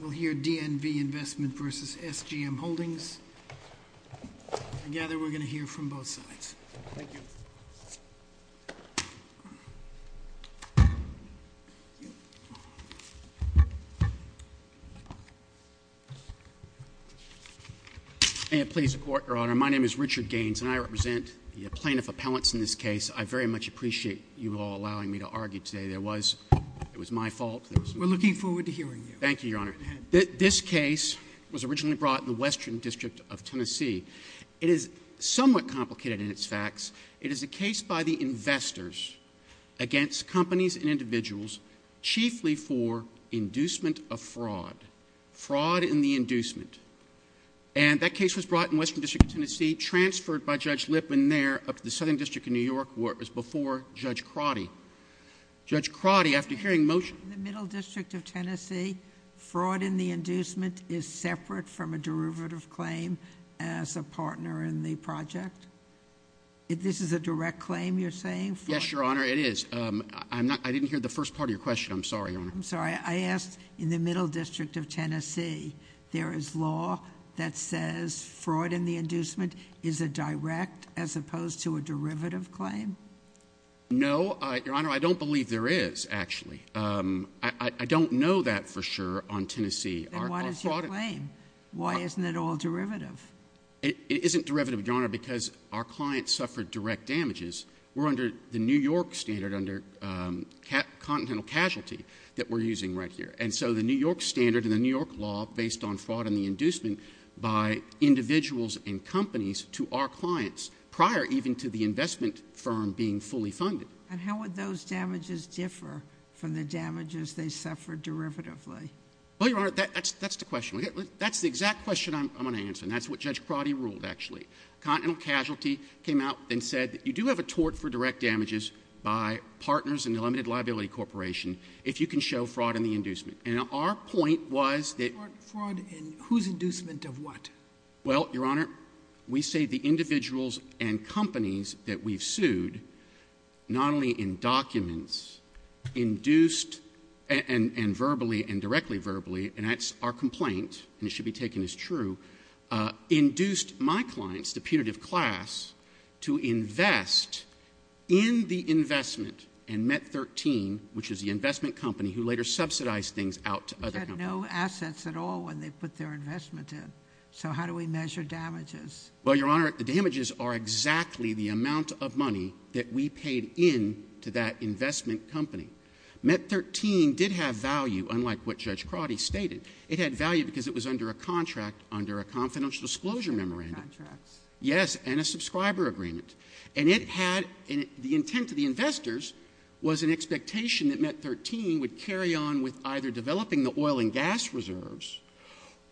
We'll hear DNV Investment v. SGM Holdings. Together, we're going to hear from both sides. Thank you. May it please the Court, Your Honor. My name is Richard Gaines, and I represent the plaintiff appellants in this case. I very much appreciate you all allowing me to argue today. It was my fault. We're looking forward to hearing you. Thank you, Your Honor. This case was originally brought in the Western District of Tennessee. It is somewhat complicated in its facts. It is a case by the investors against companies and individuals, chiefly for inducement of fraud. Fraud in the inducement. And that case was brought in the Western District of Tennessee, transferred by Judge Lipman there, up to the Southern District of New York, where it was before Judge Crotty. Judge Crotty, after hearing motion— In the Middle District of Tennessee, fraud in the inducement is separate from a derivative claim as a partner in the project? This is a direct claim you're saying? Yes, Your Honor, it is. I didn't hear the first part of your question. I'm sorry, Your Honor. I'm sorry. I asked, in the Middle District of Tennessee, there is law that says fraud in the inducement is a direct as opposed to a derivative claim? No, Your Honor, I don't believe there is, actually. I don't know that for sure on Tennessee. Then what is your claim? Why isn't it all derivative? It isn't derivative, Your Honor, because our clients suffered direct damages. We're under the New York standard under continental casualty that we're using right here. And so the New York standard and the New York law based on fraud in the inducement by individuals and companies to our clients prior even to the investment firm being fully funded. And how would those damages differ from the damages they suffered derivatively? Well, Your Honor, that's the question. That's the exact question I'm going to answer, and that's what Judge Crotty ruled, actually. Continental casualty came out and said that you do have a tort for direct damages by partners in the Limited Liability Corporation if you can show fraud in the inducement. And our point was that ---- Fraud in whose inducement of what? Well, Your Honor, we say the individuals and companies that we've sued, not only in documents, induced and verbally and directly verbally, and that's our complaint, and it should be taken as true, induced my clients, the punitive class, to invest in the investment in MET 13, which is the investment company who later subsidized things out to other companies. They had no assets at all when they put their investment in. So how do we measure damages? Well, Your Honor, the damages are exactly the amount of money that we paid in to that investment company. MET 13 did have value, unlike what Judge Crotty stated. It had value because it was under a contract, under a confidential disclosure memorandum. Contracts. Yes, and a subscriber agreement. And it had the intent of the investors was an expectation that MET 13 would carry on with either developing the oil and gas reserves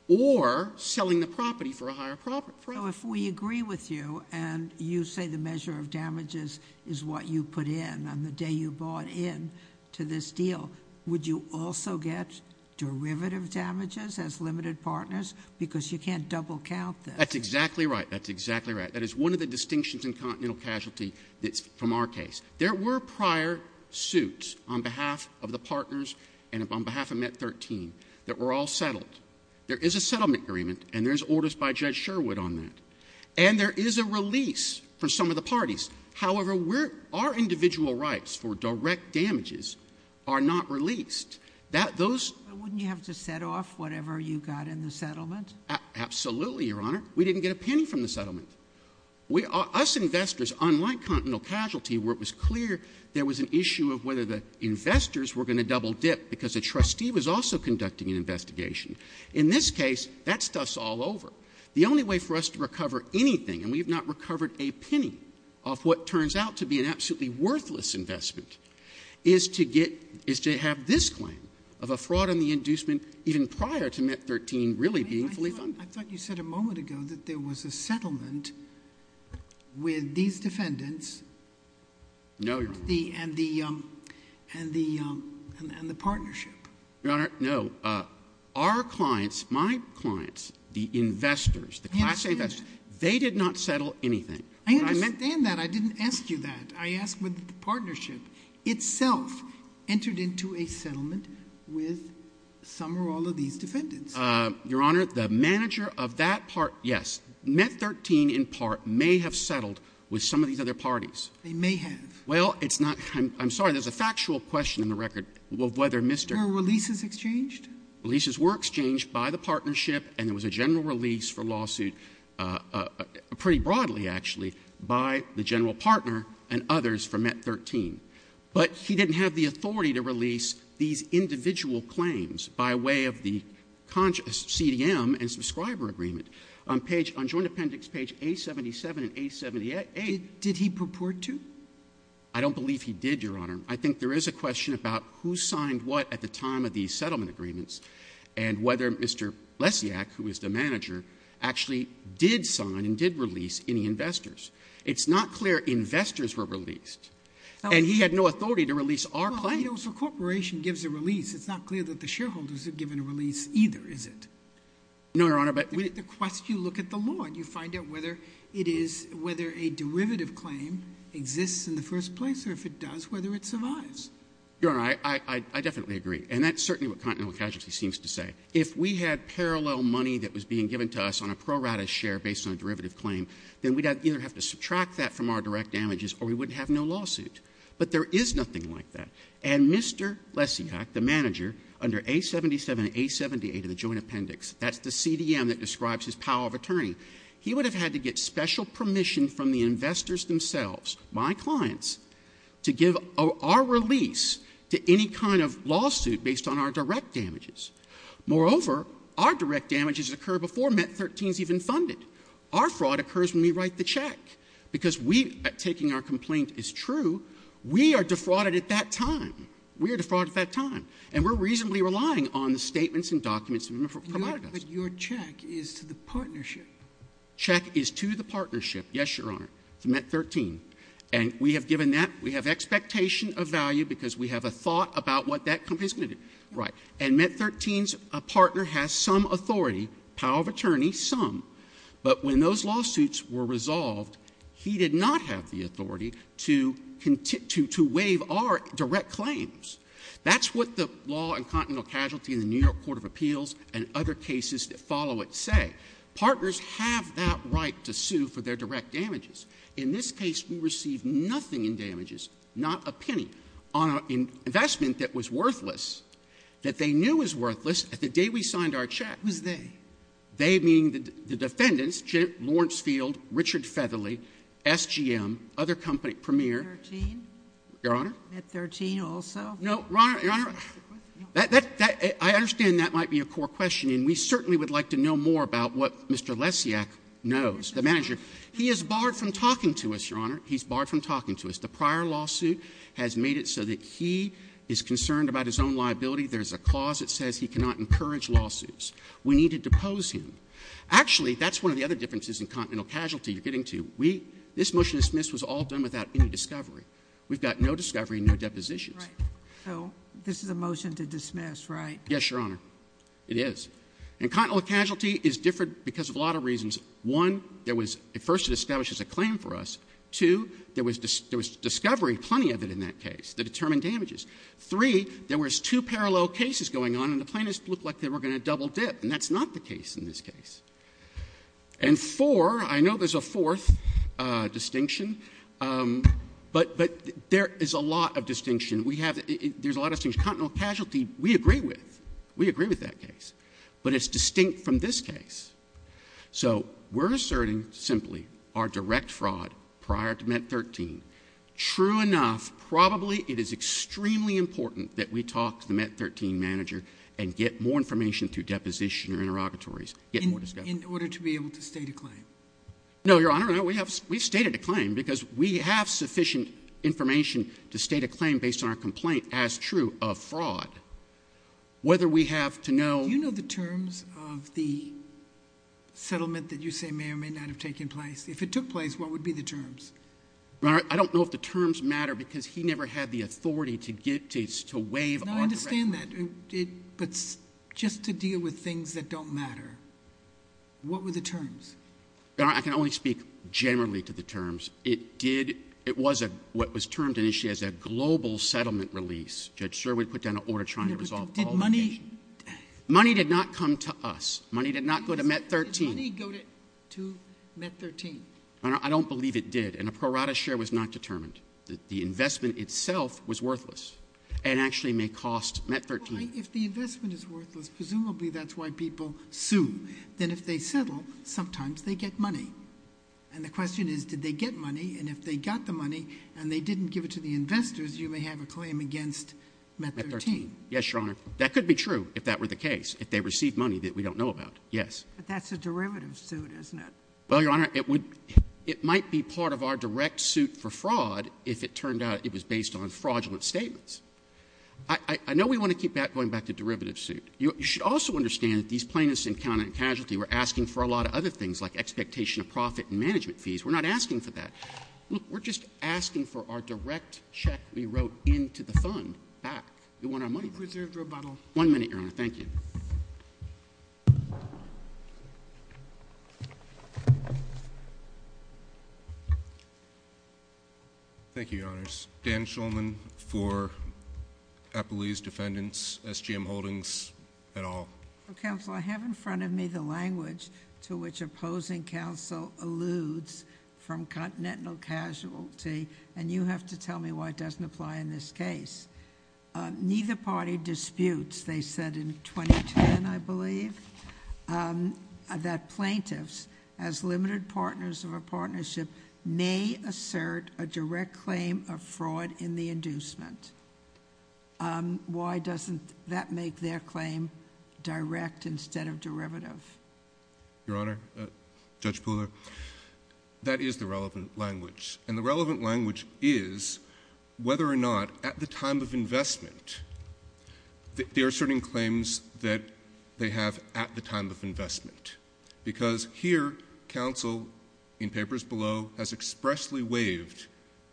or selling the property for a higher price. So if we agree with you and you say the measure of damages is what you put in on the day you bought in to this deal, would you also get derivative damages as limited partners? Because you can't double count this. That's exactly right. That's exactly right. That is one of the distinctions in continental casualty that's from our case. There were prior suits on behalf of the partners and on behalf of MET 13 that were all settled. There is a settlement agreement, and there's orders by Judge Sherwood on that. And there is a release for some of the parties. However, our individual rights for direct damages are not released. Those — But wouldn't you have to set off whatever you got in the settlement? Absolutely, Your Honor. We didn't get a penny from the settlement. Us investors, unlike continental casualty, where it was clear there was an issue of whether the investors were going to double dip because a trustee was also conducting an investigation. In this case, that stuff's all over. The only way for us to recover anything, and we have not recovered a penny off what turns out to be an absolutely worthless investment, is to get — is to have this claim of a fraud on the inducement even prior to MET 13 really being fully funded. I thought you said a moment ago that there was a settlement with these defendants. No, Your Honor. And the — and the partnership. Your Honor, no. Our clients, my clients, the investors, the classic — I understand. They did not settle anything. I understand that. I didn't ask you that. I asked whether the partnership itself entered into a settlement with some or all of these defendants. Your Honor, the manager of that part — yes, MET 13 in part may have settled with some of these other parties. They may have. Well, it's not — I'm sorry, there's a factual question in the record of whether Mr. — Well, these were exchanged. The leases were exchanged by the partnership, and there was a general release for lawsuit pretty broadly, actually, by the general partner and others for MET 13. But he didn't have the authority to release these individual claims by way of the CDM and subscriber agreement on page — on Joint Appendix page A77 and A78. Did he purport to? I don't believe he did, Your Honor. I think there is a question about who signed what at the time of these settlement agreements and whether Mr. Lesiak, who is the manager, actually did sign and did release any investors. It's not clear investors were released. And he had no authority to release our claims. Well, you know, so a corporation gives a release. It's not clear that the shareholders have given a release either, is it? No, Your Honor, but — The question, you look at the law, and you find out whether it is — whether a derivative claim exists in the first place, or if it does, whether it survives. Your Honor, I definitely agree. And that's certainly what Continental Casualty seems to say. If we had parallel money that was being given to us on a pro rata share based on a derivative claim, then we'd either have to subtract that from our direct damages, or we wouldn't have no lawsuit. But there is nothing like that. And Mr. Lesiak, the manager, under A77 and A78 of the Joint Appendix, that's the CDM that describes his power of attorney, he would have had to get special permission from the investors themselves, my clients, to give our release to any kind of lawsuit based on our direct damages. Moreover, our direct damages occur before MET-13 is even funded. Our fraud occurs when we write the check. Because we, taking our complaint as true, we are defrauded at that time. We are defrauded at that time. And we're reasonably relying on the statements and documents provided to us. But your check is to the partnership. Check is to the partnership. Yes, Your Honor. To MET-13. And we have given that. We have expectation of value because we have a thought about what that company is going to do. Right. And MET-13's partner has some authority, power of attorney, some. But when those lawsuits were resolved, he did not have the authority to continue to waive our direct claims. That's what the law and continental casualty in the New York Court of Appeals and other cases that follow it say. Partners have that right to sue for their direct damages. In this case, we received nothing in damages, not a penny, on an investment that was worthless, that they knew was worthless at the day we signed our check. Who's they? They being the defendants, Lawrence Field, Richard Featherly, SGM, other company, Premier. MET-13? Your Honor? MET-13 also? No, Your Honor. I understand that might be a core question, and we certainly would like to know more about what Mr. Lesiak knows, the manager. He is barred from talking to us, Your Honor. He's barred from talking to us. The prior lawsuit has made it so that he is concerned about his own liability. There's a clause that says he cannot encourage lawsuits. We need to depose him. Actually, that's one of the other differences in continental casualty you're getting to. This motion to dismiss was all done without any discovery. We've got no discovery, no depositions. Right. So this is a motion to dismiss, right? Yes, Your Honor. It is. And continental casualty is different because of a lot of reasons. One, there was at first it establishes a claim for us. Two, there was discovery, plenty of it in that case, that determined damages. Three, there was two parallel cases going on, and the plaintiffs looked like they were going to double dip. And that's not the case in this case. And four, I know there's a fourth distinction, but there is a lot of distinction. There's a lot of things. Continental casualty, we agree with. We agree with that case. But it's distinct from this case. So we're asserting simply our direct fraud prior to MET-13. True enough, probably it is extremely important that we talk to the MET-13 manager and get more information through deposition or interrogatories, get more discovery. In order to be able to state a claim? No, Your Honor. No, we've stated a claim because we have sufficient information to state a claim based on our complaint as true of fraud. Whether we have to know. Do you know the terms of the settlement that you say may or may not have taken place? If it took place, what would be the terms? Your Honor, I don't know if the terms matter because he never had the authority to give, to waive. No, I understand that. But just to deal with things that don't matter, what were the terms? Your Honor, I can only speak generally to the terms. It did, it was what was termed initially as a global settlement release. Judge Sherwood put down an order trying to resolve all the issues. Did money? Money did not come to us. Money did not go to MET-13. Did money go to MET-13? Your Honor, I don't believe it did. And a pro rata share was not determined. The investment itself was worthless and actually may cost MET-13. If the investment is worthless, presumably that's why people sue. Then if they settle, sometimes they get money. And the question is, did they get money? And if they got the money and they didn't give it to the investors, you may have a claim against MET-13. Yes, Your Honor. That could be true if that were the case, if they received money that we don't know about. Yes. But that's a derivative suit, isn't it? Well, Your Honor, it would be part of our direct suit for fraud if it turned out it was based on fraudulent statements. I know we want to keep going back to derivative suit. You should also understand that these plaintiffs in counted casualty were asking for a lot of other things like expectation of profit and management fees. We're not asking for that. Look, we're just asking for our direct check we wrote into the fund back. We want our money back. We've reserved rebuttal. One minute, Your Honor. Thank you. Thank you, Your Honors. Dan Schulman for Applebee's Defendants, SGM Holdings, et al. Counsel, I have in front of me the language to which opposing counsel alludes from continental casualty, and you have to tell me why it doesn't apply in this case. Neither party disputes, they said in 2010, I believe, that plaintiffs as limited partners of a partnership may assert a direct claim of fraud in the inducement. Why doesn't that make their claim direct instead of derivative? Your Honor, Judge Pooler, that is the relevant language. And the relevant language is whether or not at the time of investment, they're asserting claims that they have at the time of investment. Because here, counsel, in papers below, has expressly waived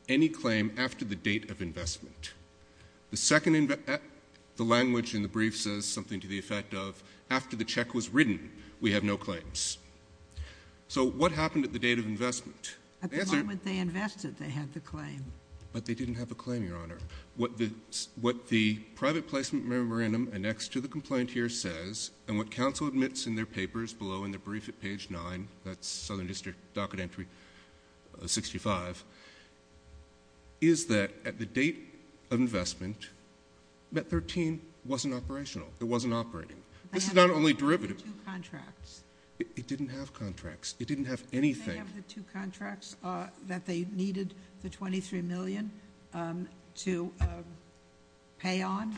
any claim after the date of investment. The language in the brief says something to the effect of after the check was written, we have no claims. So what happened at the date of investment? At the moment they invested, they had the claim. But they didn't have a claim, Your Honor. What the private placement memorandum annexed to the complaint here says, and what counsel admits in their papers below in the brief at page 9, that's Southern District Docket Entry 65, is that at the date of investment, MET-13 wasn't operational. It wasn't operating. This is not only derivative. It didn't have contracts. It didn't have anything. Did they have the two contracts that they needed the $23 million to pay on?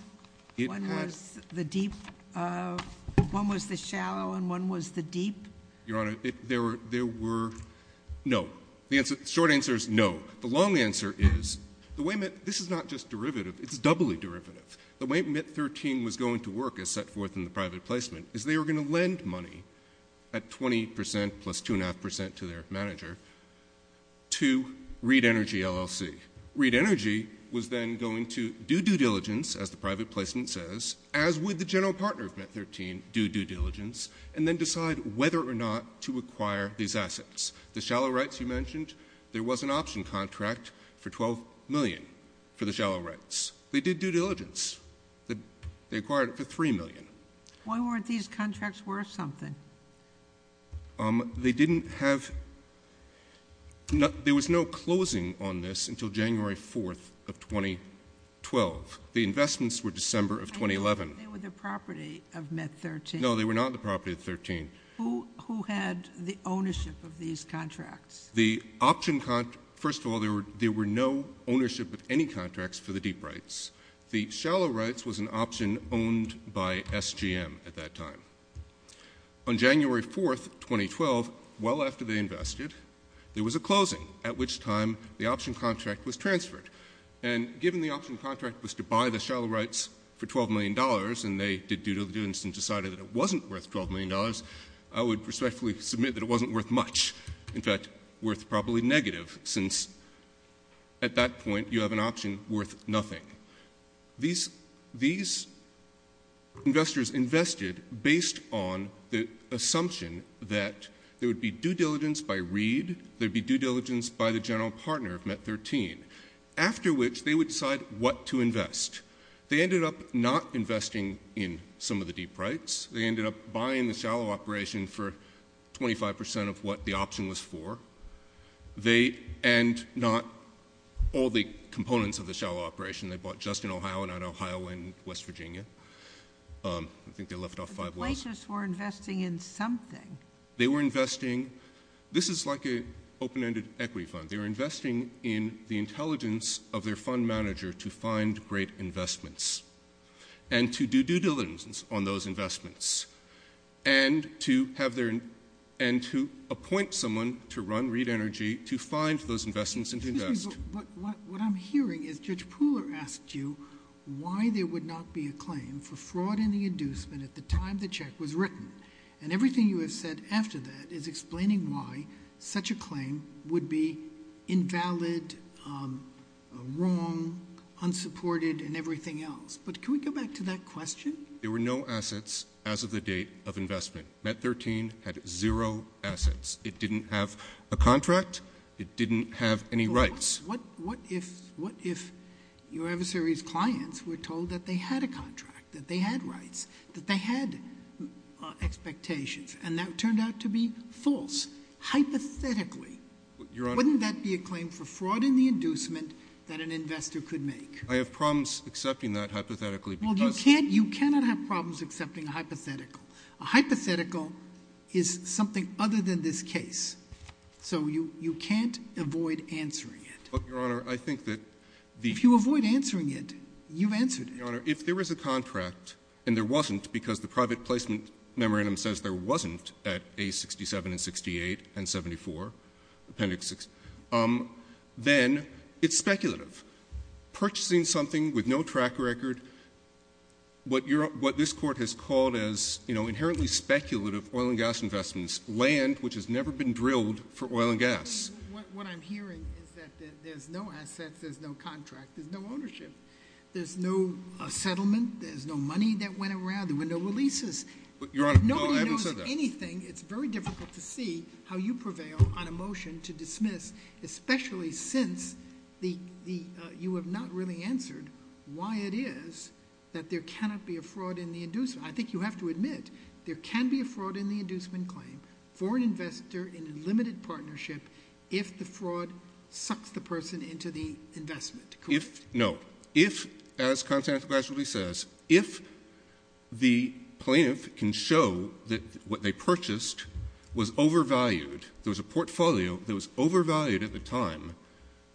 One was the deep, one was the shallow, and one was the deep? Your Honor, there were no. The short answer is no. The long answer is, this is not just derivative. It's doubly derivative. The way MET-13 was going to work as set forth in the private placement is they were going to lend money at 20% plus 2.5% to their manager to Reed Energy, LLC. Reed Energy was then going to do due diligence, as the private placement says, as would the general partner of MET-13, do due diligence, and then decide whether or not to acquire these assets. The shallow rights you mentioned, there was an option contract for $12 million for the shallow rights. They did due diligence. They acquired it for $3 million. Why weren't these contracts worth something? They didn't have no closing on this until January 4th of 2012. The investments were December of 2011. They were the property of MET-13. No, they were not the property of MET-13. Who had the ownership of these contracts? First of all, there were no ownership of any contracts for the deep rights. The shallow rights was an option owned by SGM at that time. On January 4th, 2012, well after they invested, there was a closing, at which time the option contract was transferred. And given the option contract was to buy the shallow rights for $12 million, and they did due diligence and decided that it wasn't worth $12 million, I would respectfully submit that it wasn't worth much. In fact, worth probably negative, since at that point you have an option worth nothing. These investors invested based on the assumption that there would be due diligence by Reed, there would be due diligence by the general partner of MET-13, after which they would decide what to invest. They ended up not investing in some of the deep rights. They ended up buying the shallow operation for 25% of what the option was for. And not all the components of the shallow operation. They bought just in Ohio, not Ohio and West Virginia. I think they left off five levels. The Blasius were investing in something. They were investing. This is like an open-ended equity fund. They were investing in the intelligence of their fund manager to find great investments. And to do due diligence on those investments. And to appoint someone to run Reed Energy to find those investments and invest. What I'm hearing is Judge Pooler asked you why there would not be a claim for fraud in the inducement at the time the check was written. Invalid, wrong, unsupported, and everything else. But can we go back to that question? There were no assets as of the date of investment. MET-13 had zero assets. It didn't have a contract. It didn't have any rights. What if your adversary's clients were told that they had a contract? That they had rights? That they had expectations? And that turned out to be false. Hypothetically, wouldn't that be a claim for fraud in the inducement that an investor could make? I have problems accepting that hypothetically. Well, you cannot have problems accepting a hypothetical. A hypothetical is something other than this case. So you can't avoid answering it. But, Your Honor, I think that the — If you avoid answering it, you've answered it. Your Honor, if there is a contract, and there wasn't because the private placement memorandum says there wasn't at A67 and 68 and 74, Appendix 6, then it's speculative. Purchasing something with no track record, what this Court has called as inherently speculative oil and gas investments, land which has never been drilled for oil and gas. What I'm hearing is that there's no assets, there's no contract, there's no ownership. There's no settlement. There's no money that went around. There were no releases. Your Honor, no, I haven't said that. Nobody knows anything. It's very difficult to see how you prevail on a motion to dismiss, especially since you have not really answered why it is that there cannot be a fraud in the inducement. I think you have to admit there can be a fraud in the inducement claim for an investor in a limited partnership if the fraud sucks the person into the investment. No. If, as Constance gradually says, if the plaintiff can show that what they purchased was overvalued, there was a portfolio that was overvalued at the time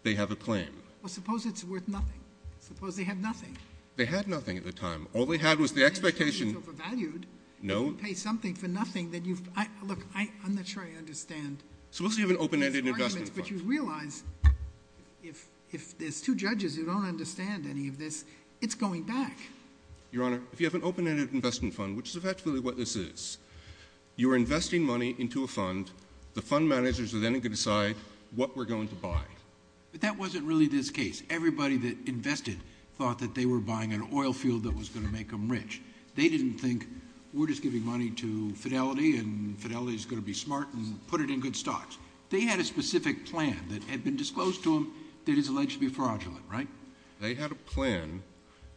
they have a claim. Well, suppose it's worth nothing. Suppose they have nothing. They had nothing at the time. All they had was the expectation. It's overvalued. No. If you pay something for nothing that you've — look, I'm not sure I understand. Suppose you have an open-ended investment fund. But you realize if there's two judges who don't understand any of this, it's going back. Your Honor, if you have an open-ended investment fund, which is effectively what this is, you're investing money into a fund. The fund managers are then going to decide what we're going to buy. But that wasn't really this case. Everybody that invested thought that they were buying an oil field that was going to make them rich. They didn't think we're just giving money to Fidelity and Fidelity is going to be smart and put it in good stocks. They had a specific plan that had been disclosed to them that is alleged to be fraudulent, right? They had a plan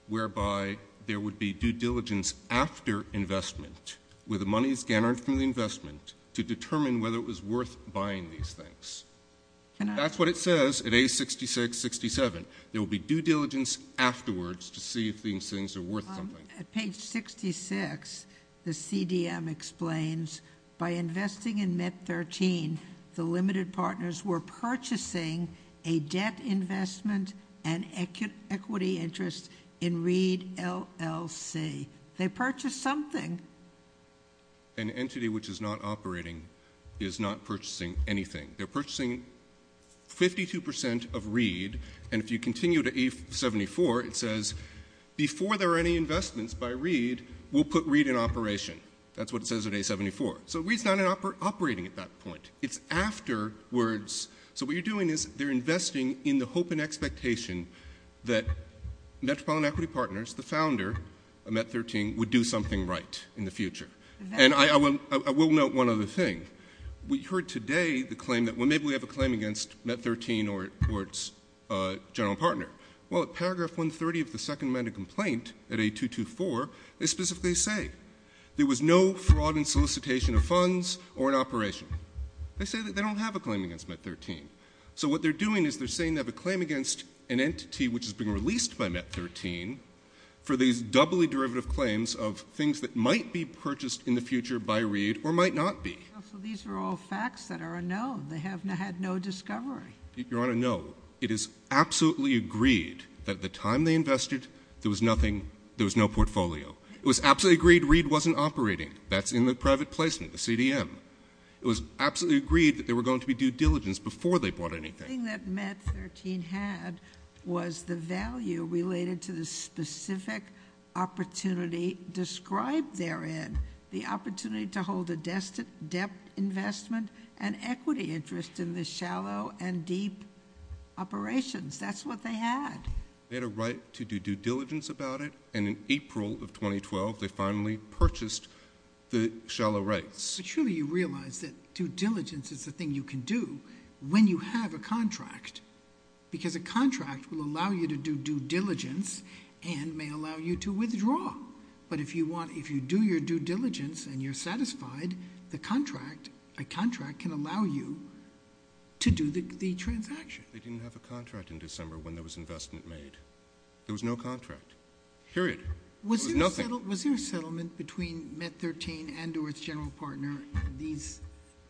whereby there would be due diligence after investment, with the money scattered from the investment, to determine whether it was worth buying these things. That's what it says at A66-67. There will be due diligence afterwards to see if these things are worth something. At page 66, the CDM explains, by investing in MET-13, the limited partners were purchasing a debt investment and equity interest in Reed LLC. They purchased something. An entity which is not operating is not purchasing anything. They're purchasing 52% of Reed. And if you continue to A-74, it says, before there are any investments by Reed, we'll put Reed in operation. That's what it says at A-74. So Reed's not operating at that point. It's afterwards. So what you're doing is they're investing in the hope and expectation that Metropolitan Equity Partners, the founder of MET-13, would do something right in the future. And I will note one other thing. We heard today the claim that, well, maybe we have a claim against MET-13 or its general partner. Well, at paragraph 130 of the second amendment complaint at A-224, they specifically say, there was no fraud in solicitation of funds or in operation. They say that they don't have a claim against MET-13. So what they're doing is they're saying they have a claim against an entity which has been released by MET-13 for these doubly derivative claims of things that might be purchased in the future by Reed or might not be. So these are all facts that are unknown. They have had no discovery. Your Honor, no. It is absolutely agreed that at the time they invested, there was nothing, there was no portfolio. It was absolutely agreed Reed wasn't operating. That's in the private placement, the CDM. It was absolutely agreed that there were going to be due diligence before they bought anything. The thing that MET-13 had was the value related to the specific opportunity described therein, the opportunity to hold a debt investment and equity interest in the shallow and deep operations. That's what they had. They had a right to do due diligence about it, and in April of 2012, they finally purchased the shallow rights. But surely you realize that due diligence is a thing you can do when you have a contract, because a contract will allow you to do due diligence and may allow you to withdraw. But if you do your due diligence and you're satisfied, a contract can allow you to do the transaction. They didn't have a contract in December when there was investment made. There was no contract, period. There was nothing. Was there a settlement between MET-13 and or its general partner and these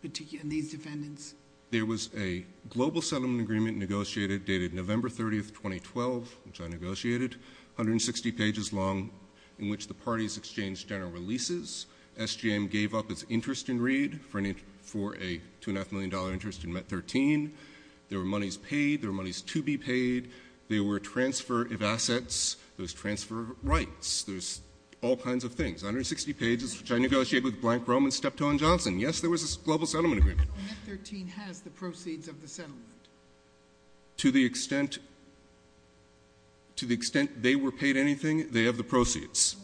defendants? There was a global settlement agreement negotiated dated November 30, 2012, which I negotiated, 160 pages long, in which the parties exchanged general releases. SGM gave up its interest in Reed for a $2.5 million interest in MET-13. There were monies paid. There were monies to be paid. There were transfer of assets. There was transfer of rights. There's all kinds of things. 160 pages, which I negotiated with Blank Rome and Steptoe & Johnson. Yes, there was a global settlement agreement. MET-13 has the proceeds of the settlement. To the extent they were paid anything, they have the proceeds.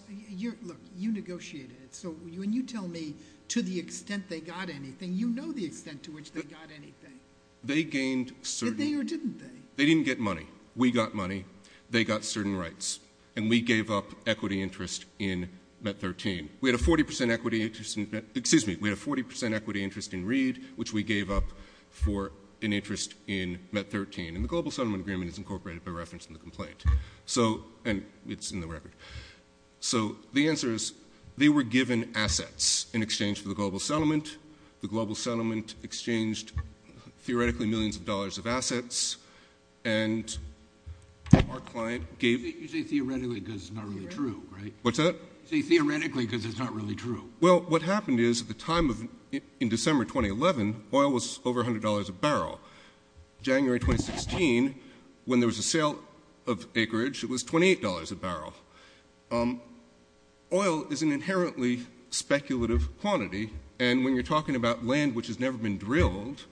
Look, you negotiated. So when you tell me to the extent they got anything, you know the extent to which they got anything. They gained certain. Did they or didn't they? They didn't get money. We got money. They got certain rights. And we gave up equity interest in MET-13. Excuse me. We had a 40% equity interest in Reed, which we gave up for an interest in MET-13. And the global settlement agreement is incorporated by reference in the complaint. And it's in the record. So the answer is they were given assets in exchange for the global settlement. The global settlement exchanged theoretically millions of dollars of assets. And our client gave— You say theoretically because it's not really true, right? What's that? You say theoretically because it's not really true. Well, what happened is at the time of—in December 2011, oil was over $100 a barrel. January 2016, when there was a sale of acreage, it was $28 a barrel. Oil is an inherently speculative quantity. And when you're talking about land which has never been drilled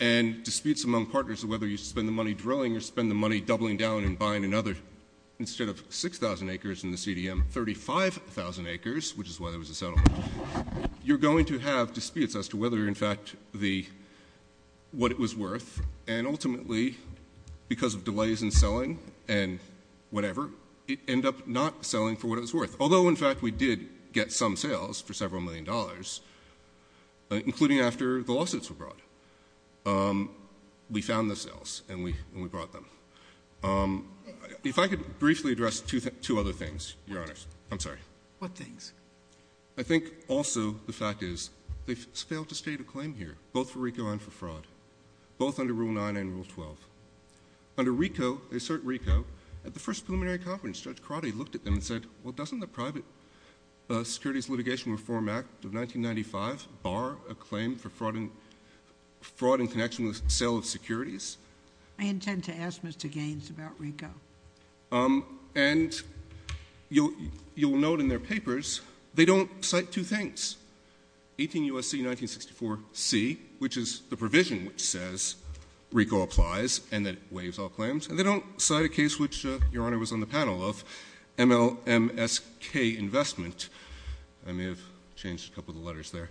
and disputes among partners of whether you spend the money drilling or spend the money doubling down and buying another, instead of 6,000 acres in the CDM, 35,000 acres, which is why there was a settlement, you're going to have disputes as to whether, in fact, what it was worth. And ultimately, because of delays in selling and whatever, it ended up not selling for what it was worth. Although, in fact, we did get some sales for several million dollars, including after the lawsuits were brought. We found the sales, and we brought them. If I could briefly address two other things, Your Honor. I'm sorry. What things? I think also the fact is they failed to state a claim here, both for RICO and for fraud, both under Rule 9 and Rule 12. Under RICO, they assert RICO, at the first preliminary conference, Judge Crotty looked at them and said, well, doesn't the Private Securities Litigation Reform Act of 1995 bar a claim for fraud in connection with sale of securities? I intend to ask Mr. Gaines about RICO. And you'll note in their papers they don't cite two things, 18 U.S.C. 1964C, which is the provision which says RICO applies and that it waives all claims, and they don't cite a case which Your Honor was on the panel of, MLMSK Investment. I may have changed a couple of the letters there,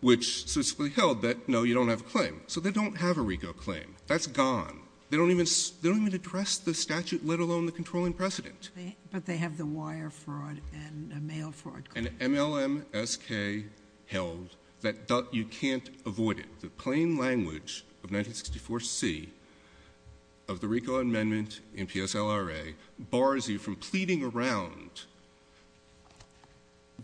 which specifically held that, no, you don't have a claim. So they don't have a RICO claim. That's gone. They don't even address the statute, let alone the controlling precedent. But they have the wire fraud and mail fraud claim. And MLMSK held that you can't avoid it. The plain language of 1964C of the RICO amendment in PSLRA bars you from pleading around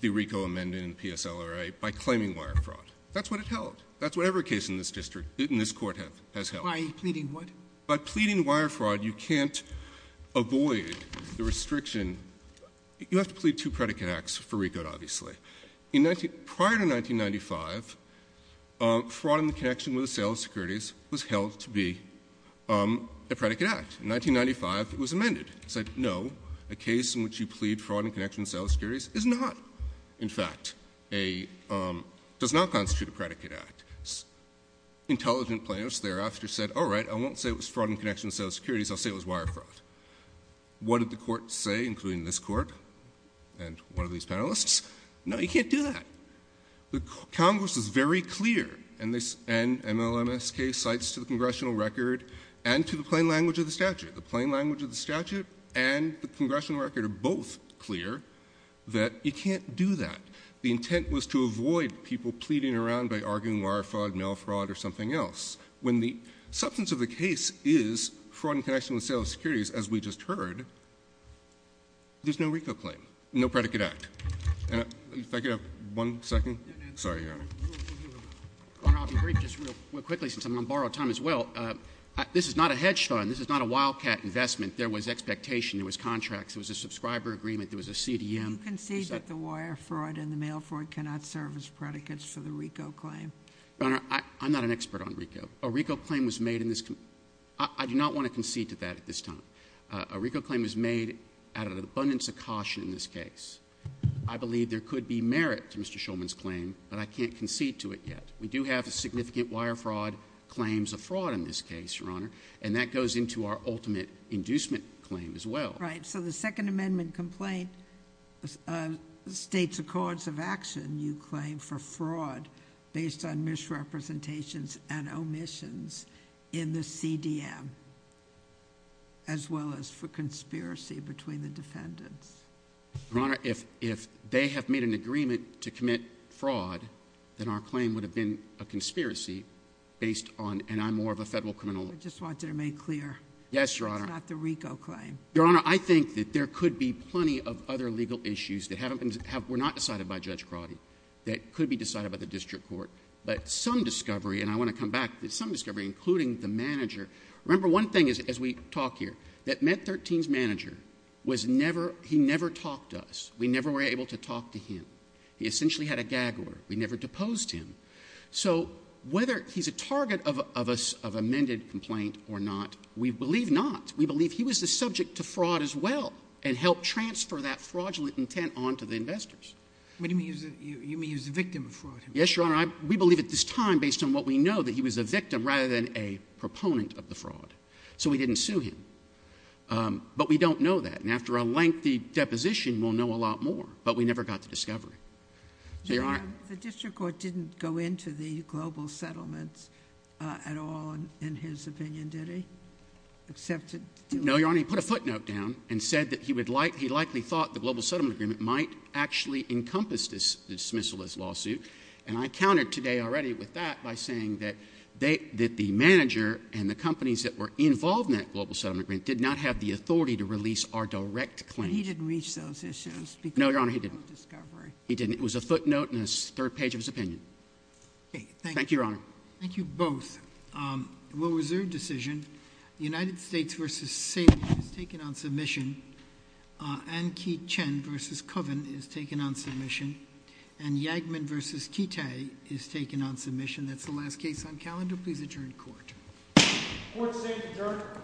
the RICO amendment in PSLRA by claiming wire fraud. That's what it held. That's whatever case in this district, in this court, has held. By pleading what? By pleading wire fraud, you can't avoid the restriction. You have to plead two predicate acts for RICO, obviously. Prior to 1995, fraud in the connection with sales securities was held to be a predicate act. In 1995, it was amended. It said, no, a case in which you plead fraud in connection with sales securities is not, in fact, does not constitute a predicate act. Intelligent plaintiffs thereafter said, all right, I won't say it was fraud in connection with sales securities. I'll say it was wire fraud. What did the court say, including this court and one of these panelists? No, you can't do that. Congress is very clear, and MLMSK cites to the congressional record and to the plain language of the statute. The plain language of the statute and the congressional record are both clear that you can't do that. The intent was to avoid people pleading around by arguing wire fraud, mail fraud, or something else. When the substance of the case is fraud in connection with sales securities, as we just heard, there's no RICO claim, no predicate act. If I could have one second. Sorry, Your Honor. Your Honor, I'll be brief just real quickly since I'm going to borrow time as well. This is not a hedge fund. This is not a Wildcat investment. There was expectation. There was contracts. There was a subscriber agreement. There was a CDM. You concede that the wire fraud and the mail fraud cannot serve as predicates for the RICO claim? Your Honor, I'm not an expert on RICO. A RICO claim was made in this—I do not want to concede to that at this time. A RICO claim was made out of an abundance of caution in this case. I believe there could be merit to Mr. Shulman's claim, but I can't concede to it yet. We do have significant wire fraud claims of fraud in this case, Your Honor, and that goes into our ultimate inducement claim as well. Right. So the Second Amendment complaint states accords of action, you claim, for fraud based on misrepresentations and omissions in the CDM as well as for conspiracy between the defendants. Your Honor, if they have made an agreement to commit fraud, then our claim would have been a conspiracy based on—and I'm more of a federal criminal lawyer. I just want that made clear. Yes, Your Honor. It's not the RICO claim. Your Honor, I think that there could be plenty of other legal issues that haven't been—were not decided by Judge Crotty that could be decided by the district court. But some discovery—and I want to come back to some discovery, including the manager. Remember one thing as we talk here, that Med 13's manager was never—he never talked to us. We never were able to talk to him. He essentially had a gag order. We never deposed him. So whether he's a target of amended complaint or not, we believe not. We believe he was the subject to fraud as well and helped transfer that fraudulent intent on to the investors. You mean he was a victim of fraud? Yes, Your Honor. We believe at this time, based on what we know, that he was a victim rather than a proponent of the fraud. So we didn't sue him. But we don't know that. And after a lengthy deposition, we'll know a lot more. But we never got to discovery. The district court didn't go into the global settlements at all, in his opinion, did he? Except to— No, Your Honor. He put a footnote down and said that he likely thought the global settlement agreement might actually encompass this dismissalist lawsuit. And I countered today already with that by saying that the manager and the companies that were involved in that global settlement agreement did not have the authority to release our direct claims. But he didn't reach those issues because— No, Your Honor, he didn't. He didn't. It was a footnote and a third page of his opinion. Okay, thank you. Thank you, Your Honor. Thank you both. Will reserve decision. The United States v. Saban is taken on submission. Ankee Chen v. Coven is taken on submission. And Yagman v. Kitay is taken on submission. That's the last case on calendar. Please adjourn court. Court is adjourned.